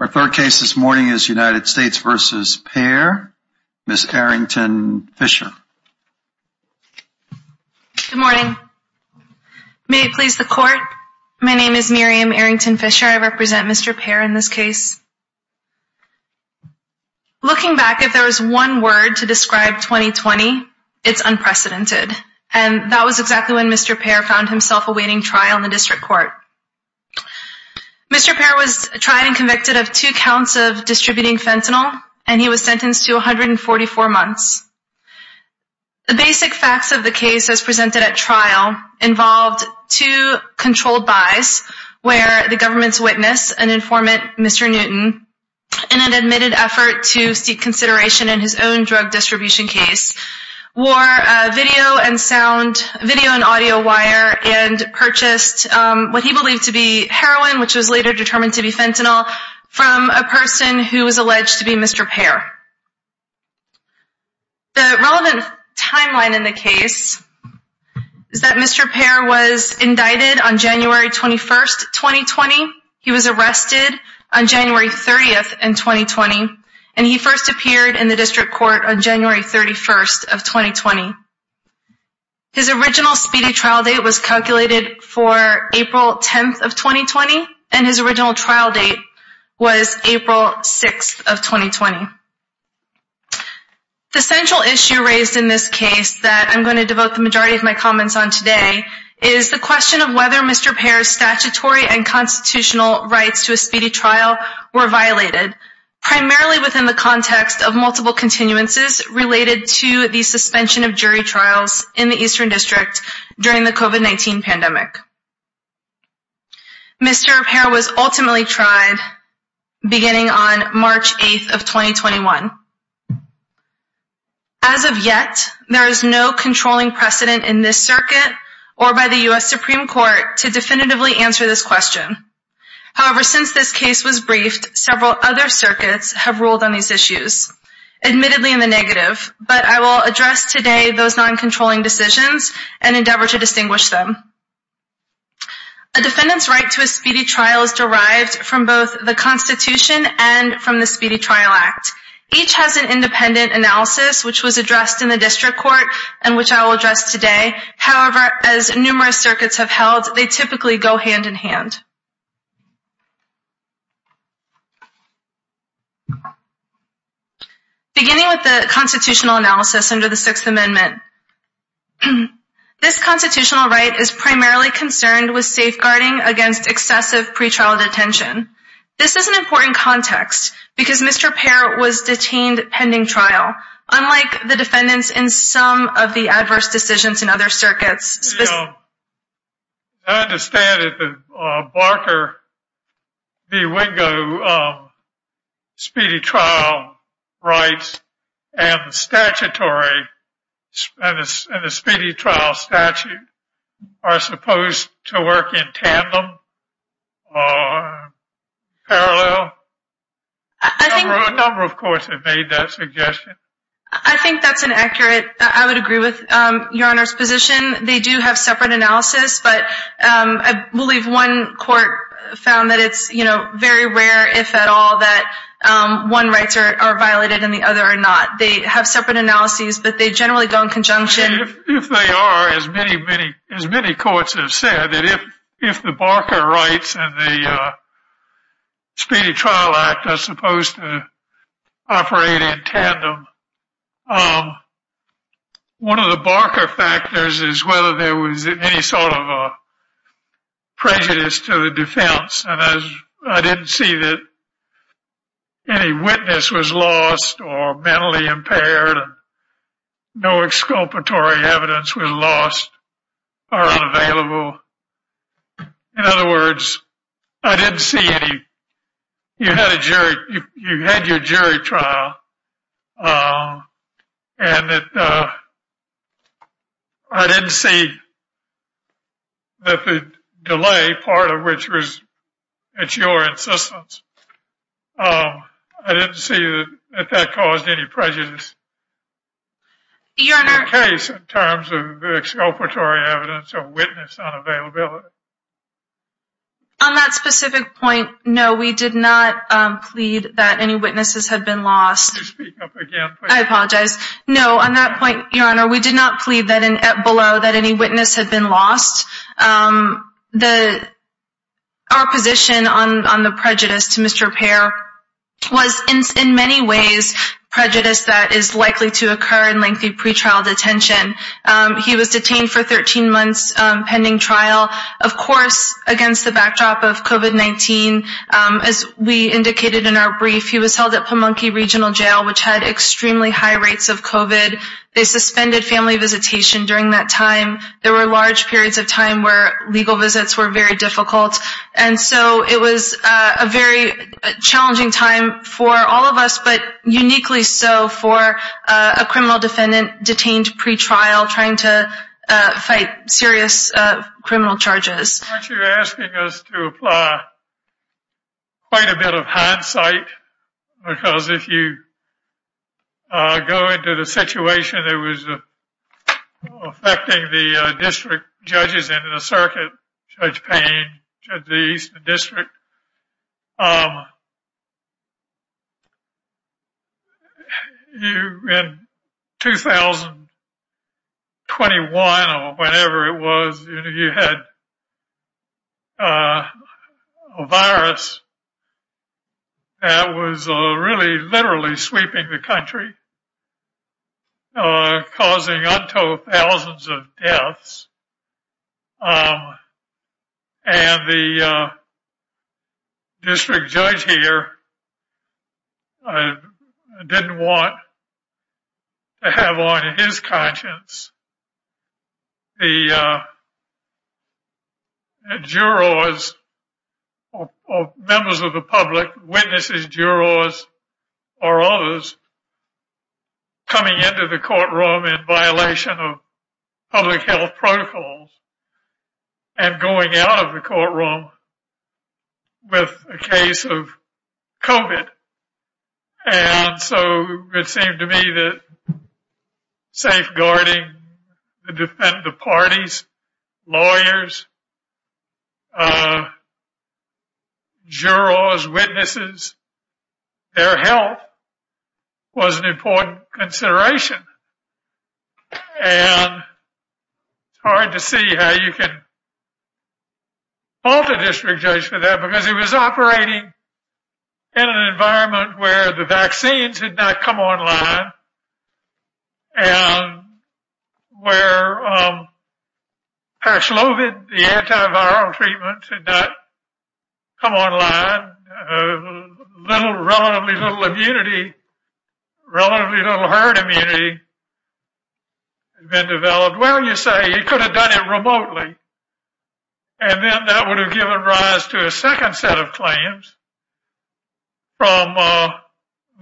Our third case this morning is United States v. Pair, Ms. Arrington-Fisher. Good morning. May it please the court, my name is Miriam Arrington-Fisher. I represent Mr. Pair in this case. Looking back, if there was one word to describe 2020, it's unprecedented. And that was exactly when Mr. Pair found himself awaiting trial in the district court. Mr. Pair was tried and convicted of two counts of distributing fentanyl, and he was sentenced to 144 months. The basic facts of the case as presented at trial involved two controlled buys where the government's witness, an informant, Mr. Newton, in an admitted effort to seek consideration in his own drug distribution case, wore video and audio wire and purchased what he believed to be heroin, which was later determined to be fentanyl, from a person who was alleged to be Mr. Pair. The relevant timeline in the case is that Mr. Pair was indicted on January 21, 2020. He was arrested on January 30, 2020, and he first appeared in the district court on January 31, 2020. His original speedy trial date was calculated for April 10, 2020, and his original trial date was April 6, 2020. The central issue raised in this case that I'm going to devote the majority of my comments on today is the question of whether Mr. Pair's statutory and constitutional rights to a speedy trial were violated, primarily within the context of multiple continuances related to the suspension of jury trials in the Eastern District during the COVID-19 pandemic. Mr. Pair was ultimately tried beginning on March 8th of 2021. As of yet, there is no controlling precedent in this circuit or by the U.S. Supreme Court to definitively answer this question. However, since this case was briefed, several other circuits have ruled on these issues, admittedly in the negative, but I will address today those non-controlling decisions and endeavor to distinguish them. A defendant's right to a speedy trial is derived from both the Constitution and from the Speedy Trial Act. Each has an independent analysis, which was addressed in the District Court and which I will address today. However, as numerous circuits have held, they typically go hand-in-hand. Beginning with the constitutional analysis under the Sixth Amendment, this constitutional right is primarily concerned with safeguarding against excessive pretrial detention. This is an important context because Mr. Pair was detained pending trial, unlike the defendants in some of the adverse decisions in other circuits. I understand that the Barker v. Wingo speedy trial rights and the speedy trial statute are supposed to work in tandem, parallel? A number of courts have made that suggestion. I think that's an accurate, I would agree with Your Honor's position. They do have separate analysis, but I believe one court found that it's very rare, if at all, that one rights are violated and the other are not. They have separate analyses, but they generally go in conjunction. If they are, as many courts have said, if the Barker rights and the Speedy Trial Act are supposed to operate in tandem, one of the Barker factors is whether there was any sort of prejudice to the defense. I didn't see that any witness was lost or mentally impaired, no exculpatory evidence was lost or unavailable. In other words, you had your jury trial, and I didn't see that the delay, part of which was at your insistence, I didn't see that that caused any prejudice. Is that the case in terms of the exculpatory evidence or witness unavailability? On that specific point, no, we did not plead that any witnesses had been lost. Could you speak up again, please? I apologize. No, on that point, Your Honor, we did not plead below that any witness had been lost. Our position on the prejudice to Mr. Payer was, in many ways, prejudice that is likely to occur in lengthy pretrial detention. He was detained for 13 months pending trial, of course, against the backdrop of COVID-19. As we indicated in our brief, he was held at Pamunkey Regional Jail, which had extremely high rates of COVID. They suspended family visitation during that time. There were large periods of time where legal visits were very difficult, and so it was a very challenging time for all of us, but uniquely so for a criminal defendant detained pretrial trying to fight serious criminal charges. Aren't you asking us to apply quite a bit of hindsight? Because if you go into the situation that was affecting the district judges and the circuit, Judge Payne, Judge East, the district, in 2021 or whenever it was, you had a virus that was really literally sweeping the country, causing untold thousands of deaths, and the district judge here didn't want to have on his conscience the jurors or members of the public, witnesses, jurors, or others coming into the courtroom in violation of public health protocols and going out of the courtroom with a case of COVID. And so it seemed to me that safeguarding the parties, lawyers, jurors, witnesses, their health was an important consideration. And it's hard to see how you can fault a district judge for that because he was operating in an environment where the vaccines had not come online and where paracelovid, the antiviral treatment, had not come online. Little, relatively little immunity, relatively little herd immunity had been developed. Well, you say, he could have done it remotely, and then that would have given rise to a second set of claims from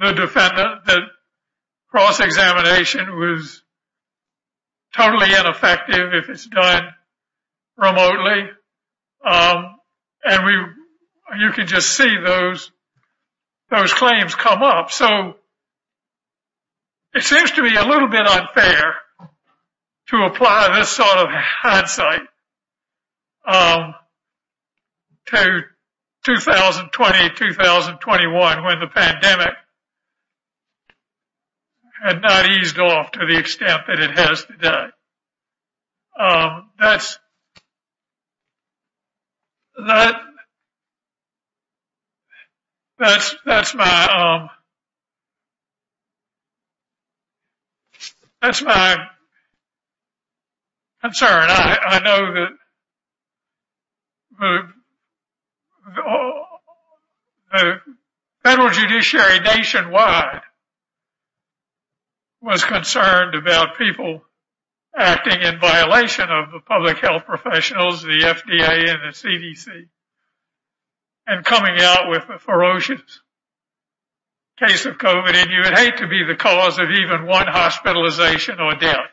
the defendant that cross-examination was totally ineffective if it's done remotely. And you could just see those claims come up. So it seems to me a little bit unfair to apply this sort of hindsight to 2020, 2021, when the pandemic had not eased off to the extent that it has today. That's my concern. I know that the federal judiciary nationwide was concerned about people acting in violation of the public health professionals, the FDA and the CDC, and coming out with a ferocious case of COVID, and you would hate to be the cause of even one hospitalization or death.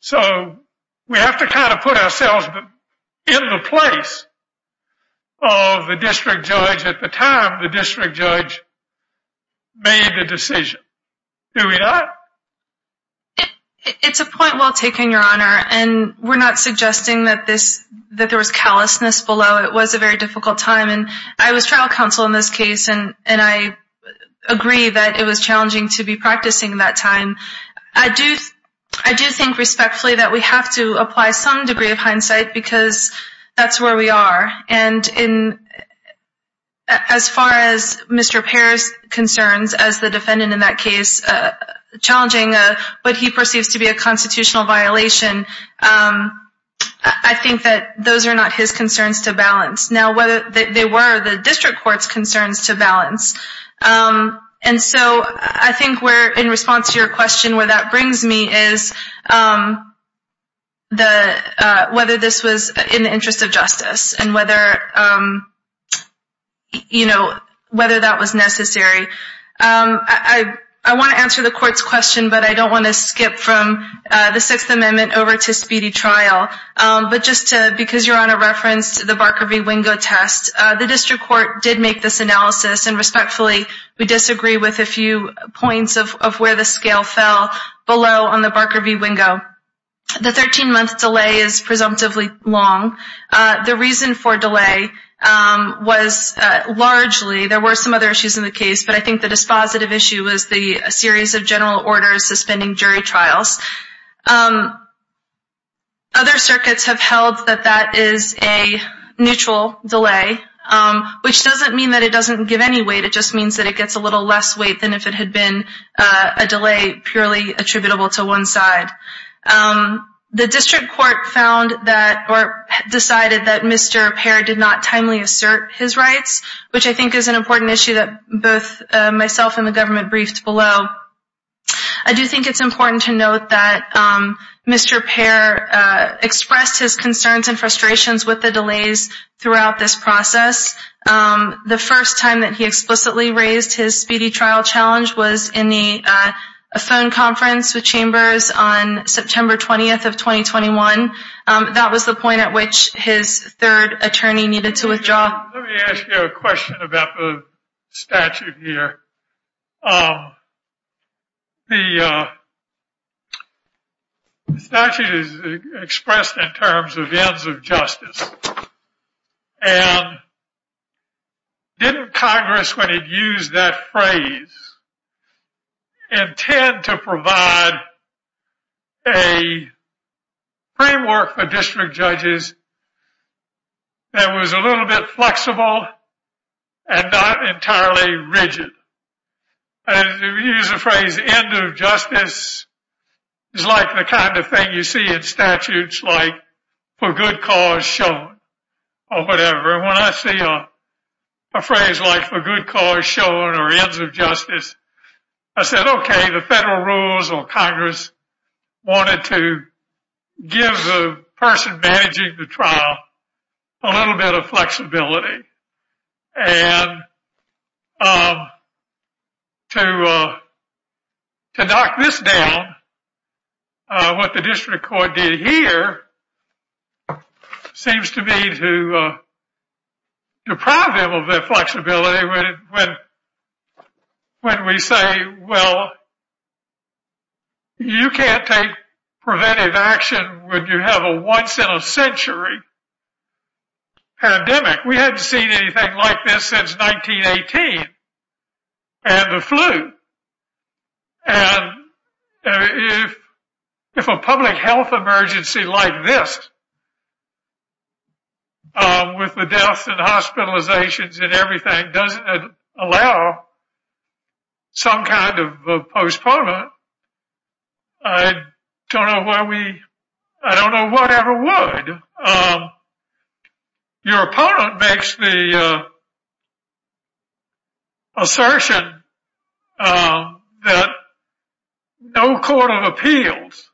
So we have to kind of put ourselves in the place of the district judge at the time the district judge made the decision. Do we not? It's a point well taken, Your Honor, and we're not suggesting that there was callousness below. It was a very difficult time, and I was trial counsel in this case, and I agree that it was challenging to be practicing at that time. I do think respectfully that we have to apply some degree of hindsight because that's where we are. And as far as Mr. Parr's concerns as the defendant in that case, challenging what he perceives to be a constitutional violation, I think that those are not his concerns to balance. Now, they were the district court's concerns to balance. And so I think in response to your question, where that brings me is whether this was in the interest of justice and whether that was necessary. I want to answer the court's question, but I don't want to skip from the Sixth Amendment over to speedy trial. But just because, Your Honor, reference to the Barker v. Wingo test, the district court did make this analysis, and respectfully we disagree with a few points of where the scale fell below on the Barker v. Wingo. The 13-month delay is presumptively long. The reason for delay was largely there were some other issues in the case, but I think the dispositive issue was the series of general orders suspending jury trials. Other circuits have held that that is a neutral delay, which doesn't mean that it doesn't give any weight. It just means that it gets a little less weight than if it had been a delay purely attributable to one side. The district court found that or decided that Mr. Parr did not timely assert his rights, which I think is an important issue that both myself and the government briefed below. I do think it's important to note that Mr. Parr expressed his concerns and frustrations with the delays throughout this process. The first time that he explicitly raised his speedy trial challenge was in the phone conference with Chambers on September 20th of 2021. That was the point at which his third attorney needed to withdraw. Let me ask you a question about the statute here. The statute is expressed in terms of ends of justice. And didn't Congress, when it used that phrase, intend to provide a framework for district judges that was a little bit flexible and not entirely rigid? And if you use the phrase end of justice, it's like the kind of thing you see in statutes like for good cause shown or whatever. And when I see a phrase like for good cause shown or ends of justice, I said, okay, maybe the federal rules or Congress wanted to give the person managing the trial a little bit of flexibility. And to knock this down, what the district court did here seems to me to deprive them of their flexibility. You can't take preventive action when you have a once in a century pandemic. We haven't seen anything like this since 1918 and the flu. And if a public health emergency like this, with the deaths and hospitalizations and everything doesn't allow some kind of postponement, I don't know why we, I don't know whatever would. Your opponent makes the assertion that no court of appeals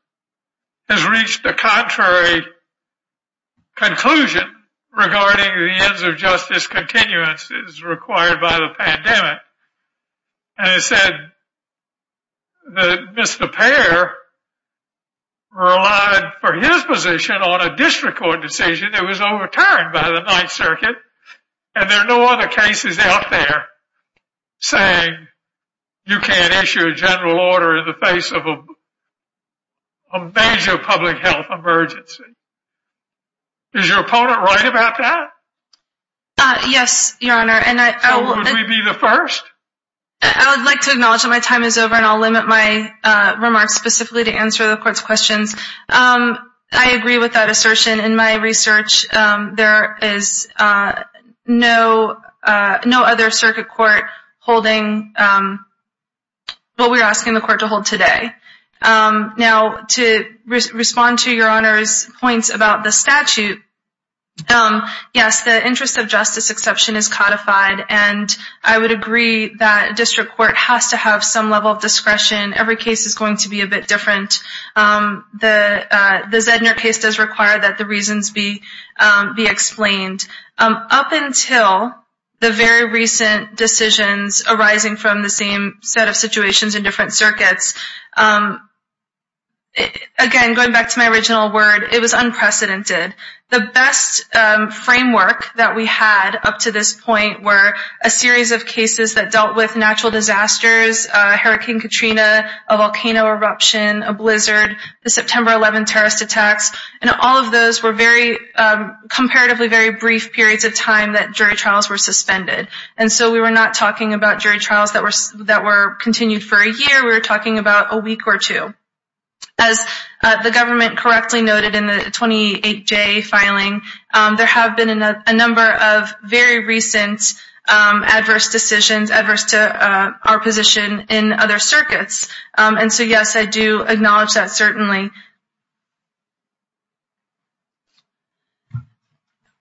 has reached the contrary conclusion regarding the ends of justice continuances required by the pandemic. And it said that Mr. Payer relied for his position on a district court decision that was overturned by the ninth circuit. And there are no other cases out there saying you can't issue a general order in the face of a major public health emergency. Yes, your honor. And I will be the first. I would like to acknowledge that my time is over and I'll limit my remarks specifically to answer the court's questions. I agree with that assertion in my research. There is no, no other circuit court holding what we're asking the court to hold today. Now to respond to your honors points about the statute. Yes. The interest of justice exception is codified. And I would agree that district court has to have some level of discretion. Every case is going to be a bit different. The Zedner case does require that the reasons be explained. Up until the very recent decisions arising from the same set of situations in different circuits, again, going back to my original word, it was unprecedented. The best framework that we had up to this point were a series of cases that dealt with natural disasters, Hurricane Katrina, a volcano eruption, a blizzard, the September 11 terrorist attacks. And all of those were very, comparatively very brief periods of time that jury trials were suspended. And so we were not talking about jury trials that were continued for a year. We were talking about a week or two. As the government correctly noted in the 28-J filing, there have been a number of very recent adverse decisions, adverse to our position in other circuits. And so, yes, I do acknowledge that certainly.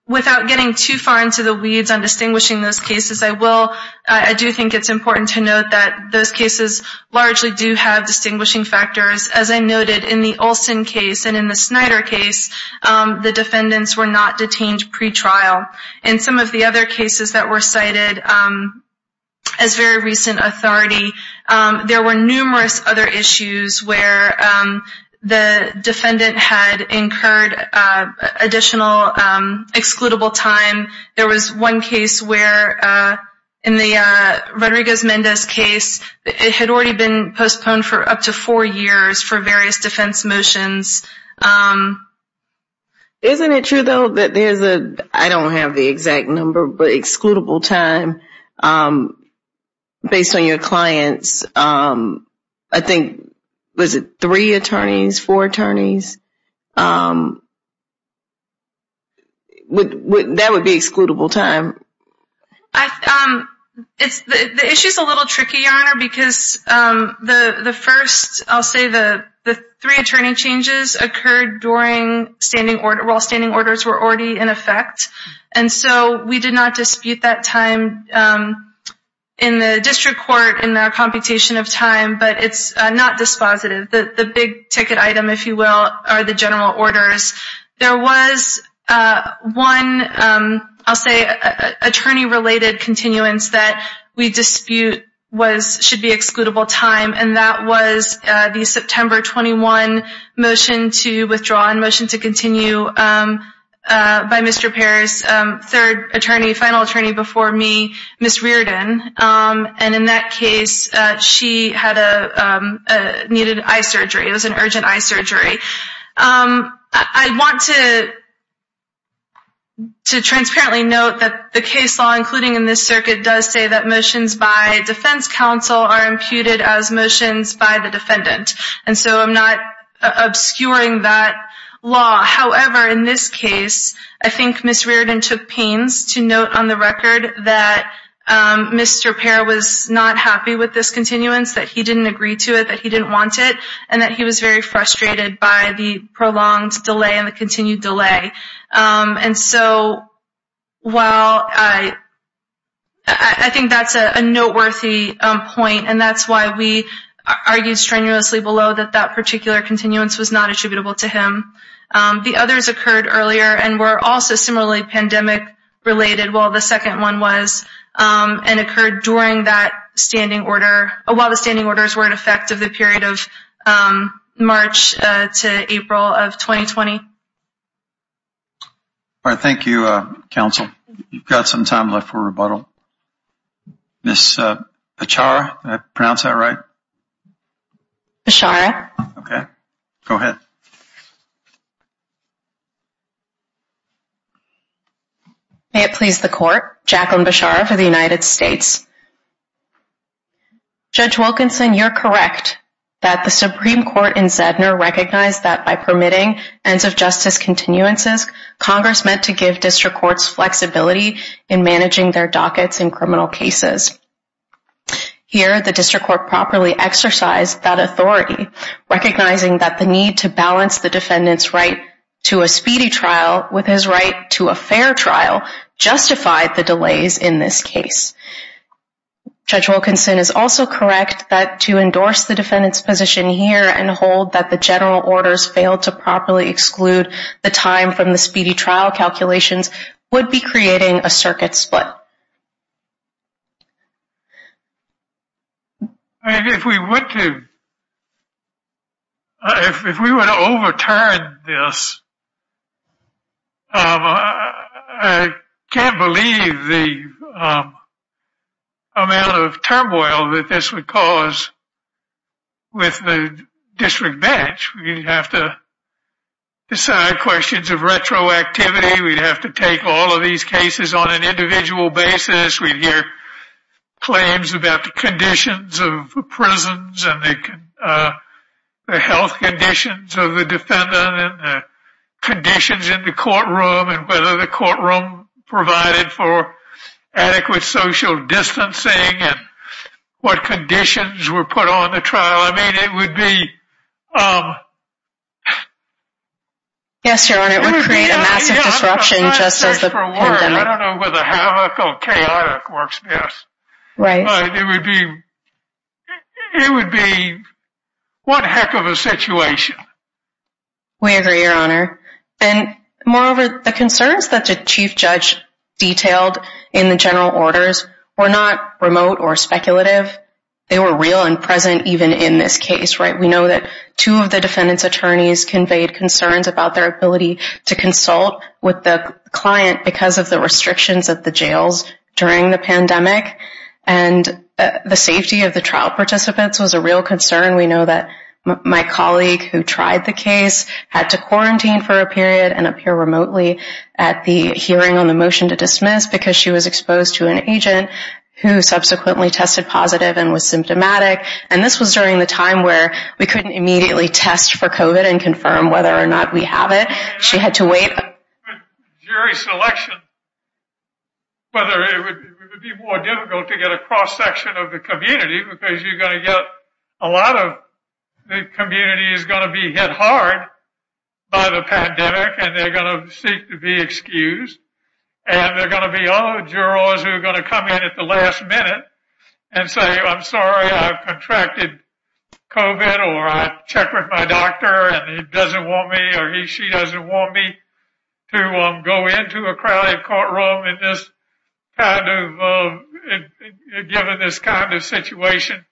Without getting too far into the weeds on distinguishing those cases, I do think it's important to note that those cases largely do have a very brief period of time. And as was noted in the Olson case and in the Snyder case, the defendants were not detained pretrial. And some of the other cases that were cited as very recent authority, there were numerous other issues where the defendant had incurred additional excludable time. There was one case where in the Rodriguez-Mendez case, it had already been postponed for up to four years for various defense motions. Isn't it true, though, that there's a, I don't have the exact number, but excludable time based on your clients? I think, was it three attorneys, four attorneys? That would be excludable time. The issue is a little tricky, Your Honor, because the first, I'll say, the three attorney changes occurred during standing order, while standing orders were already in effect. And so we did not dispute that time in the district court in our computation of time, but it's not dispositive. The big ticket item, if you will, are the general orders. There was one, I'll say, attorney-related continuance that we dispute should be excludable time, and that was the September 21 motion to withdraw and motion to continue by Mr. Parr's third attorney, final attorney before me, Ms. Reardon. And in that case, she needed eye surgery. It was an urgent eye surgery. I want to transparently note that the case law, including in this circuit, does say that motions by defense counsel are imputed as motions by the defendant, and so I'm not obscuring that law. However, in this case, I think Ms. Reardon took pains to note on the record that Mr. Parr was not happy with this continuance, that he didn't agree to it, that he didn't want it, and that he was very frustrated by the prolonged delay and the continued delay. And so while I think that's a noteworthy point, and that's why we argued strenuously below that that particular continuance was not attributable to him. The others occurred earlier and were also similarly pandemic-related, while the second one was and occurred during that standing order, while the standing orders were in effect of the period of March to April of 2020. All right, thank you, counsel. You've got some time left for rebuttal. Ms. Pachara, did I pronounce that right? Pachara. Okay, go ahead. May it please the court, Jacqueline Pachara for the United States. Judge Wilkinson, you're correct that the Supreme Court in Zedner recognized that by permitting ends of justice continuances, Congress meant to give district courts flexibility in managing their dockets in criminal cases. Here, the district court properly exercised that authority, recognizing that the need to balance the defendant's right to a speedy trial with his right to a fair trial justified the delays in this case. Judge Wilkinson is also correct that to endorse the defendant's position here and hold that the general orders failed to properly exclude the time from the speedy trial calculations would be creating a circuit split. Thank you. If we were to overturn this, I can't believe the amount of turmoil that this would cause with the district bench. We'd have to decide questions of retroactivity. We'd have to take all of these cases on an individual basis. We'd hear claims about the conditions of prisons and the health conditions of the defendant and conditions in the courtroom and whether the courtroom provided for adequate social distancing and what conditions were put on the trial. It would create a massive disruption just as the pandemic. I don't know whether havoc or chaotic works best. It would be one heck of a situation. We agree, Your Honor. Moreover, the concerns that the chief judge detailed in the general orders were not remote or speculative. They were real and present even in this case. We know that two of the defendant's attorneys conveyed concerns about their ability to consult with the client because of the restrictions of the jails during the pandemic. And the safety of the trial participants was a real concern. We know that my colleague who tried the case had to quarantine for a period and appear remotely at the hearing on the motion to dismiss because she was positive and was symptomatic. And this was during the time where we couldn't immediately test for COVID and confirm whether or not we have it. She had to wait. Jury selection, whether it would be more difficult to get a cross section of the community because you're going to get a lot of the community is going to be hit hard by the pandemic and they're going to seek to be excused and they're going to be other jurors who are going to come in at the last minute. And say, I'm sorry, I've contracted COVID or I checked with my doctor and he doesn't want me or he, she doesn't want me to go into a crowded courtroom in this kind of given this kind of situation.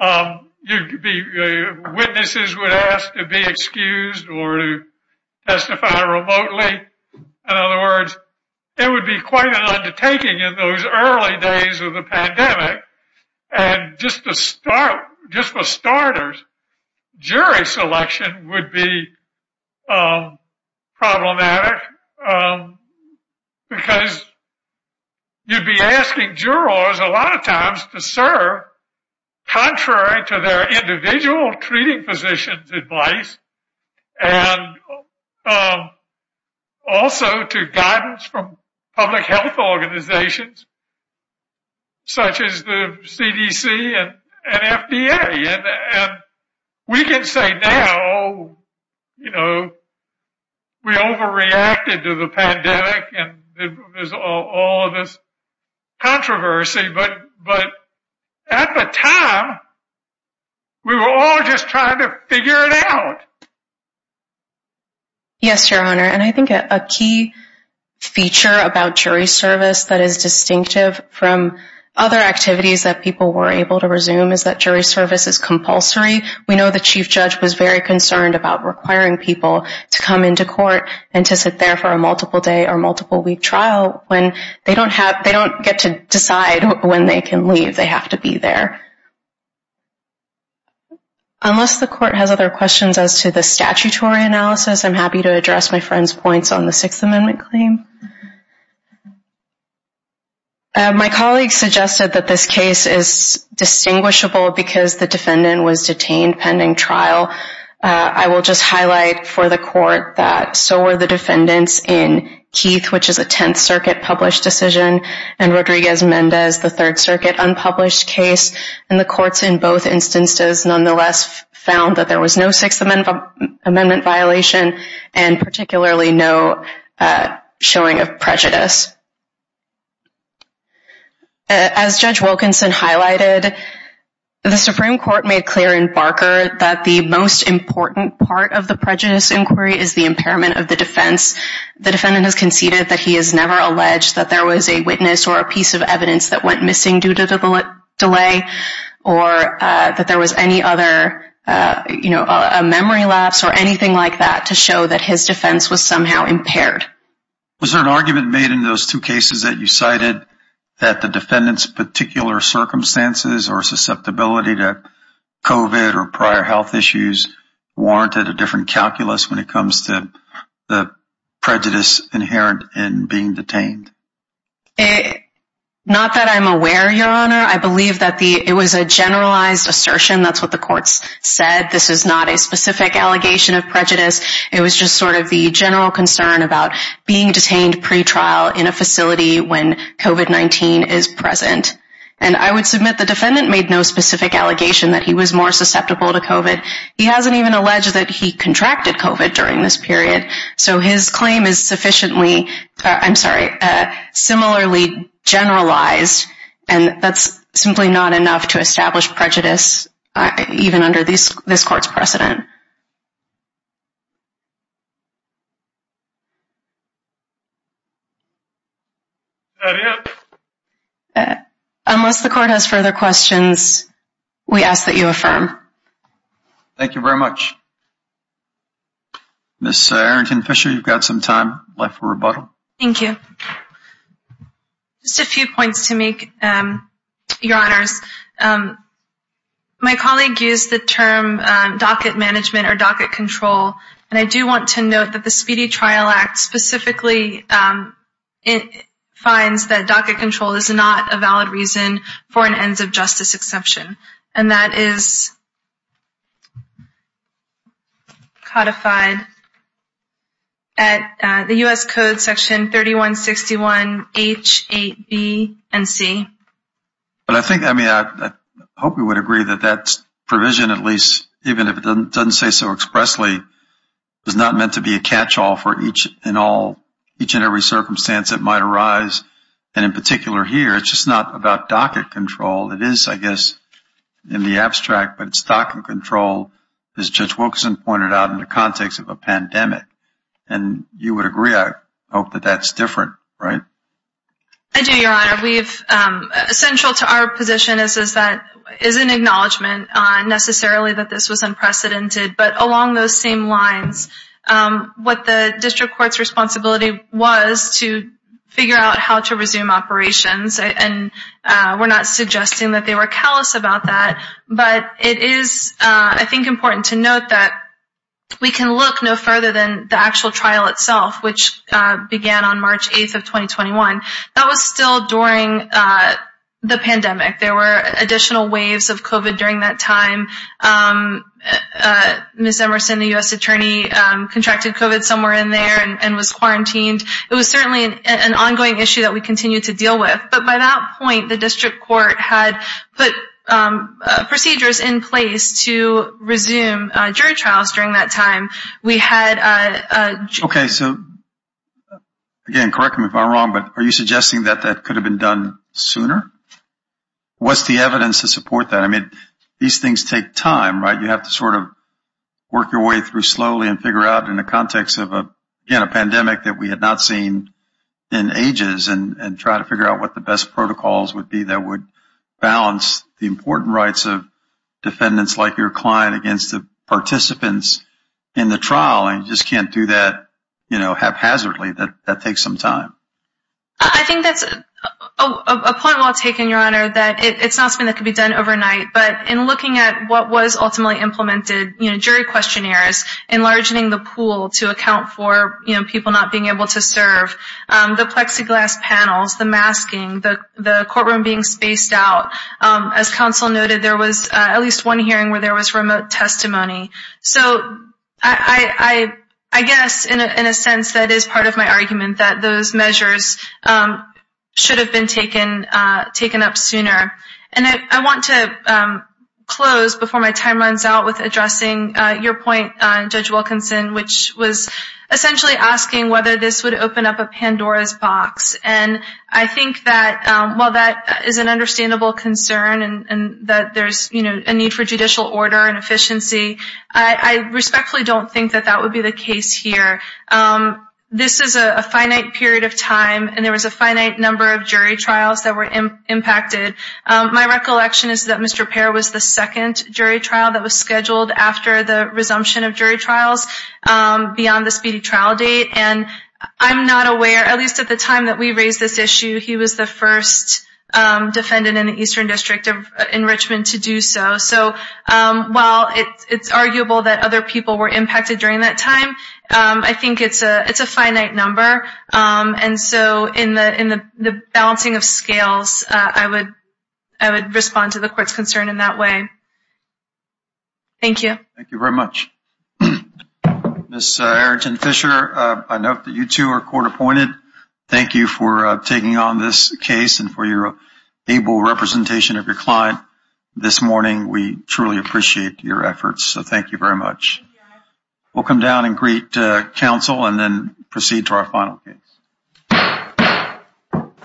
You could be witnesses would ask to be excused or to testify remotely. In other words, it would be quite an undertaking in those early days of the pandemic. And just to start, just for starters, jury selection would be problematic because you'd be asking jurors a lot of times to serve contrary to their individual treating positions advice. And also to guidance from public health organizations, such as the CDC and FDA. And we can say now, oh, you know, we overreacted to the pandemic and there's all this controversy. But at the time we were all just trying to figure it out. Yes, your honor. And I think a key feature about jury service that is distinctive from other activities that people were able to resume is that jury service is compulsory. We know the chief judge was very concerned about requiring people to come into court and to sit there for a multiple day or multiple week trial when they don't have, they don't get to decide when they can leave. They have to be there. Unless the court has other questions as to the statutory analysis, I'm happy to address my friend's points on the sixth amendment claim. My colleague suggested that this case is distinguishable because the defendant was detained pending trial. I will just highlight for the court that so were the defendants in Keith, which is a 10th circuit published decision and Rodriguez Mendez, the third circuit unpublished case. And the courts in both instances, nonetheless found that there was no sixth amendment amendment violation and particularly no showing of prejudice. As judge Wilkinson highlighted, the Supreme court made clear in Barker that the most important part of the prejudice inquiry is the impairment of the defense. The defendant has conceded that he has never alleged that there was a witness or a piece of evidence that went missing due to the delay or that there was any other, you know, a memory lapse or anything like that to show that his defense was somehow impaired. Was there an argument made in those two cases that you cited that the defendant's particular circumstances or susceptibility to COVID or prior health issues warranted a different calculus when it comes to the prejudice inherent in being detained? Not that I'm aware, your honor. I believe that the, it was a generalized assertion. That's what the courts said. This is not a specific allegation of prejudice. It was just sort of the general concern about being detained pretrial in a facility when COVID-19 is present. And I would submit the defendant made no specific allegation that he was more susceptible to COVID. He hasn't even alleged that he contracted COVID during this period. So his claim is sufficiently, I'm sorry, similarly generalized and that's simply not enough to establish prejudice, even under this court's precedent. Unless the court has further questions, we ask that you affirm. Thank you very much. Ms. Arrington Fisher, you've got some time left for rebuttal. Thank you. Just a few points to make, your honors. My colleague used the term docket management or docket control, and I do want to note that the Speedy Trial Act specifically finds that docket control is not a valid reason for an ends of justice exception. And that is codified at the U.S. Code section 3161H8B and C. But I think, I mean, I hope you would agree that that's provision at least, even if it doesn't say so expressly, is not meant to be a catch-all for each and every circumstance that might arise. And in particular here, it's just not about docket control. It is, I guess, in the abstract, but it's docket control as Judge Wilkinson pointed out in the context of a pandemic. And you would agree, I hope, that that's different, right? I do, your honor. Central to our position is that, is an acknowledgement necessarily that this was unprecedented, but along those same lines, what the district court's responsibility was to figure out how to resume operations. And we're not suggesting that they were callous about that, but it is, I think, important to note that we can look no further than the actual trial itself, which began on March 8th of 2021. That was still during the pandemic. There were additional waves of COVID during that time. Ms. Emerson, the U.S. attorney contracted COVID somewhere in there and was quarantined. It was certainly an ongoing issue that we continue to deal with. But by that point, the district court had put procedures in place to resume jury trials during that time. Okay. So again, correct me if I'm wrong, but are you suggesting that that could have been done sooner? What's the evidence to support that? I mean, these things take time, right? You have to sort of work your way through slowly and figure out in the context of a pandemic that we had not seen in ages and try to figure out what the best protocols would be that would balance the important rights of defendants like your client against the participants in the trial. And you just can't do that, you know, haphazardly. That takes some time. I think that's a point well taken, Your Honor, that it's not something that could be done overnight. But in looking at what was ultimately implemented, you know, jury questionnaires, enlarging the pool to account for, you know, people not being able to serve, the plexiglass panels, the masking, the courtroom being spaced out. As counsel noted, there was at least one hearing where there was remote testimony. So I guess in a sense that is part of my argument, that those measures should have been taken up sooner. And I want to close before my time runs out with addressing your point, Judge Wilkinson, which was essentially asking whether this would open up a Pandora's box. And I think that while that is an understandable concern and that there's, you know, a need for judicial order and efficiency, I respectfully don't think that that would be the case here. This is a finite period of time, and there was a finite number of jury trials that were impacted. My recollection is that Mr. Pair was the second jury trial that was scheduled after the resumption of jury trials beyond the speedy trial date. And I'm not aware, at least at the time that we raised this issue, he was the first defendant in the Eastern District in Richmond to do so. So while it's arguable that other people were impacted during that time, I think it's a finite number. And so in the balancing of scales, I would respond to the court's concern in that way. Thank you. Thank you very much. Ms. Arrington-Fisher, I note that you two are court appointed. Thank you for taking on this case and for your able representation of your client this morning. We truly appreciate your efforts. So thank you very much. We'll come down and greet counsel and then proceed to our final case.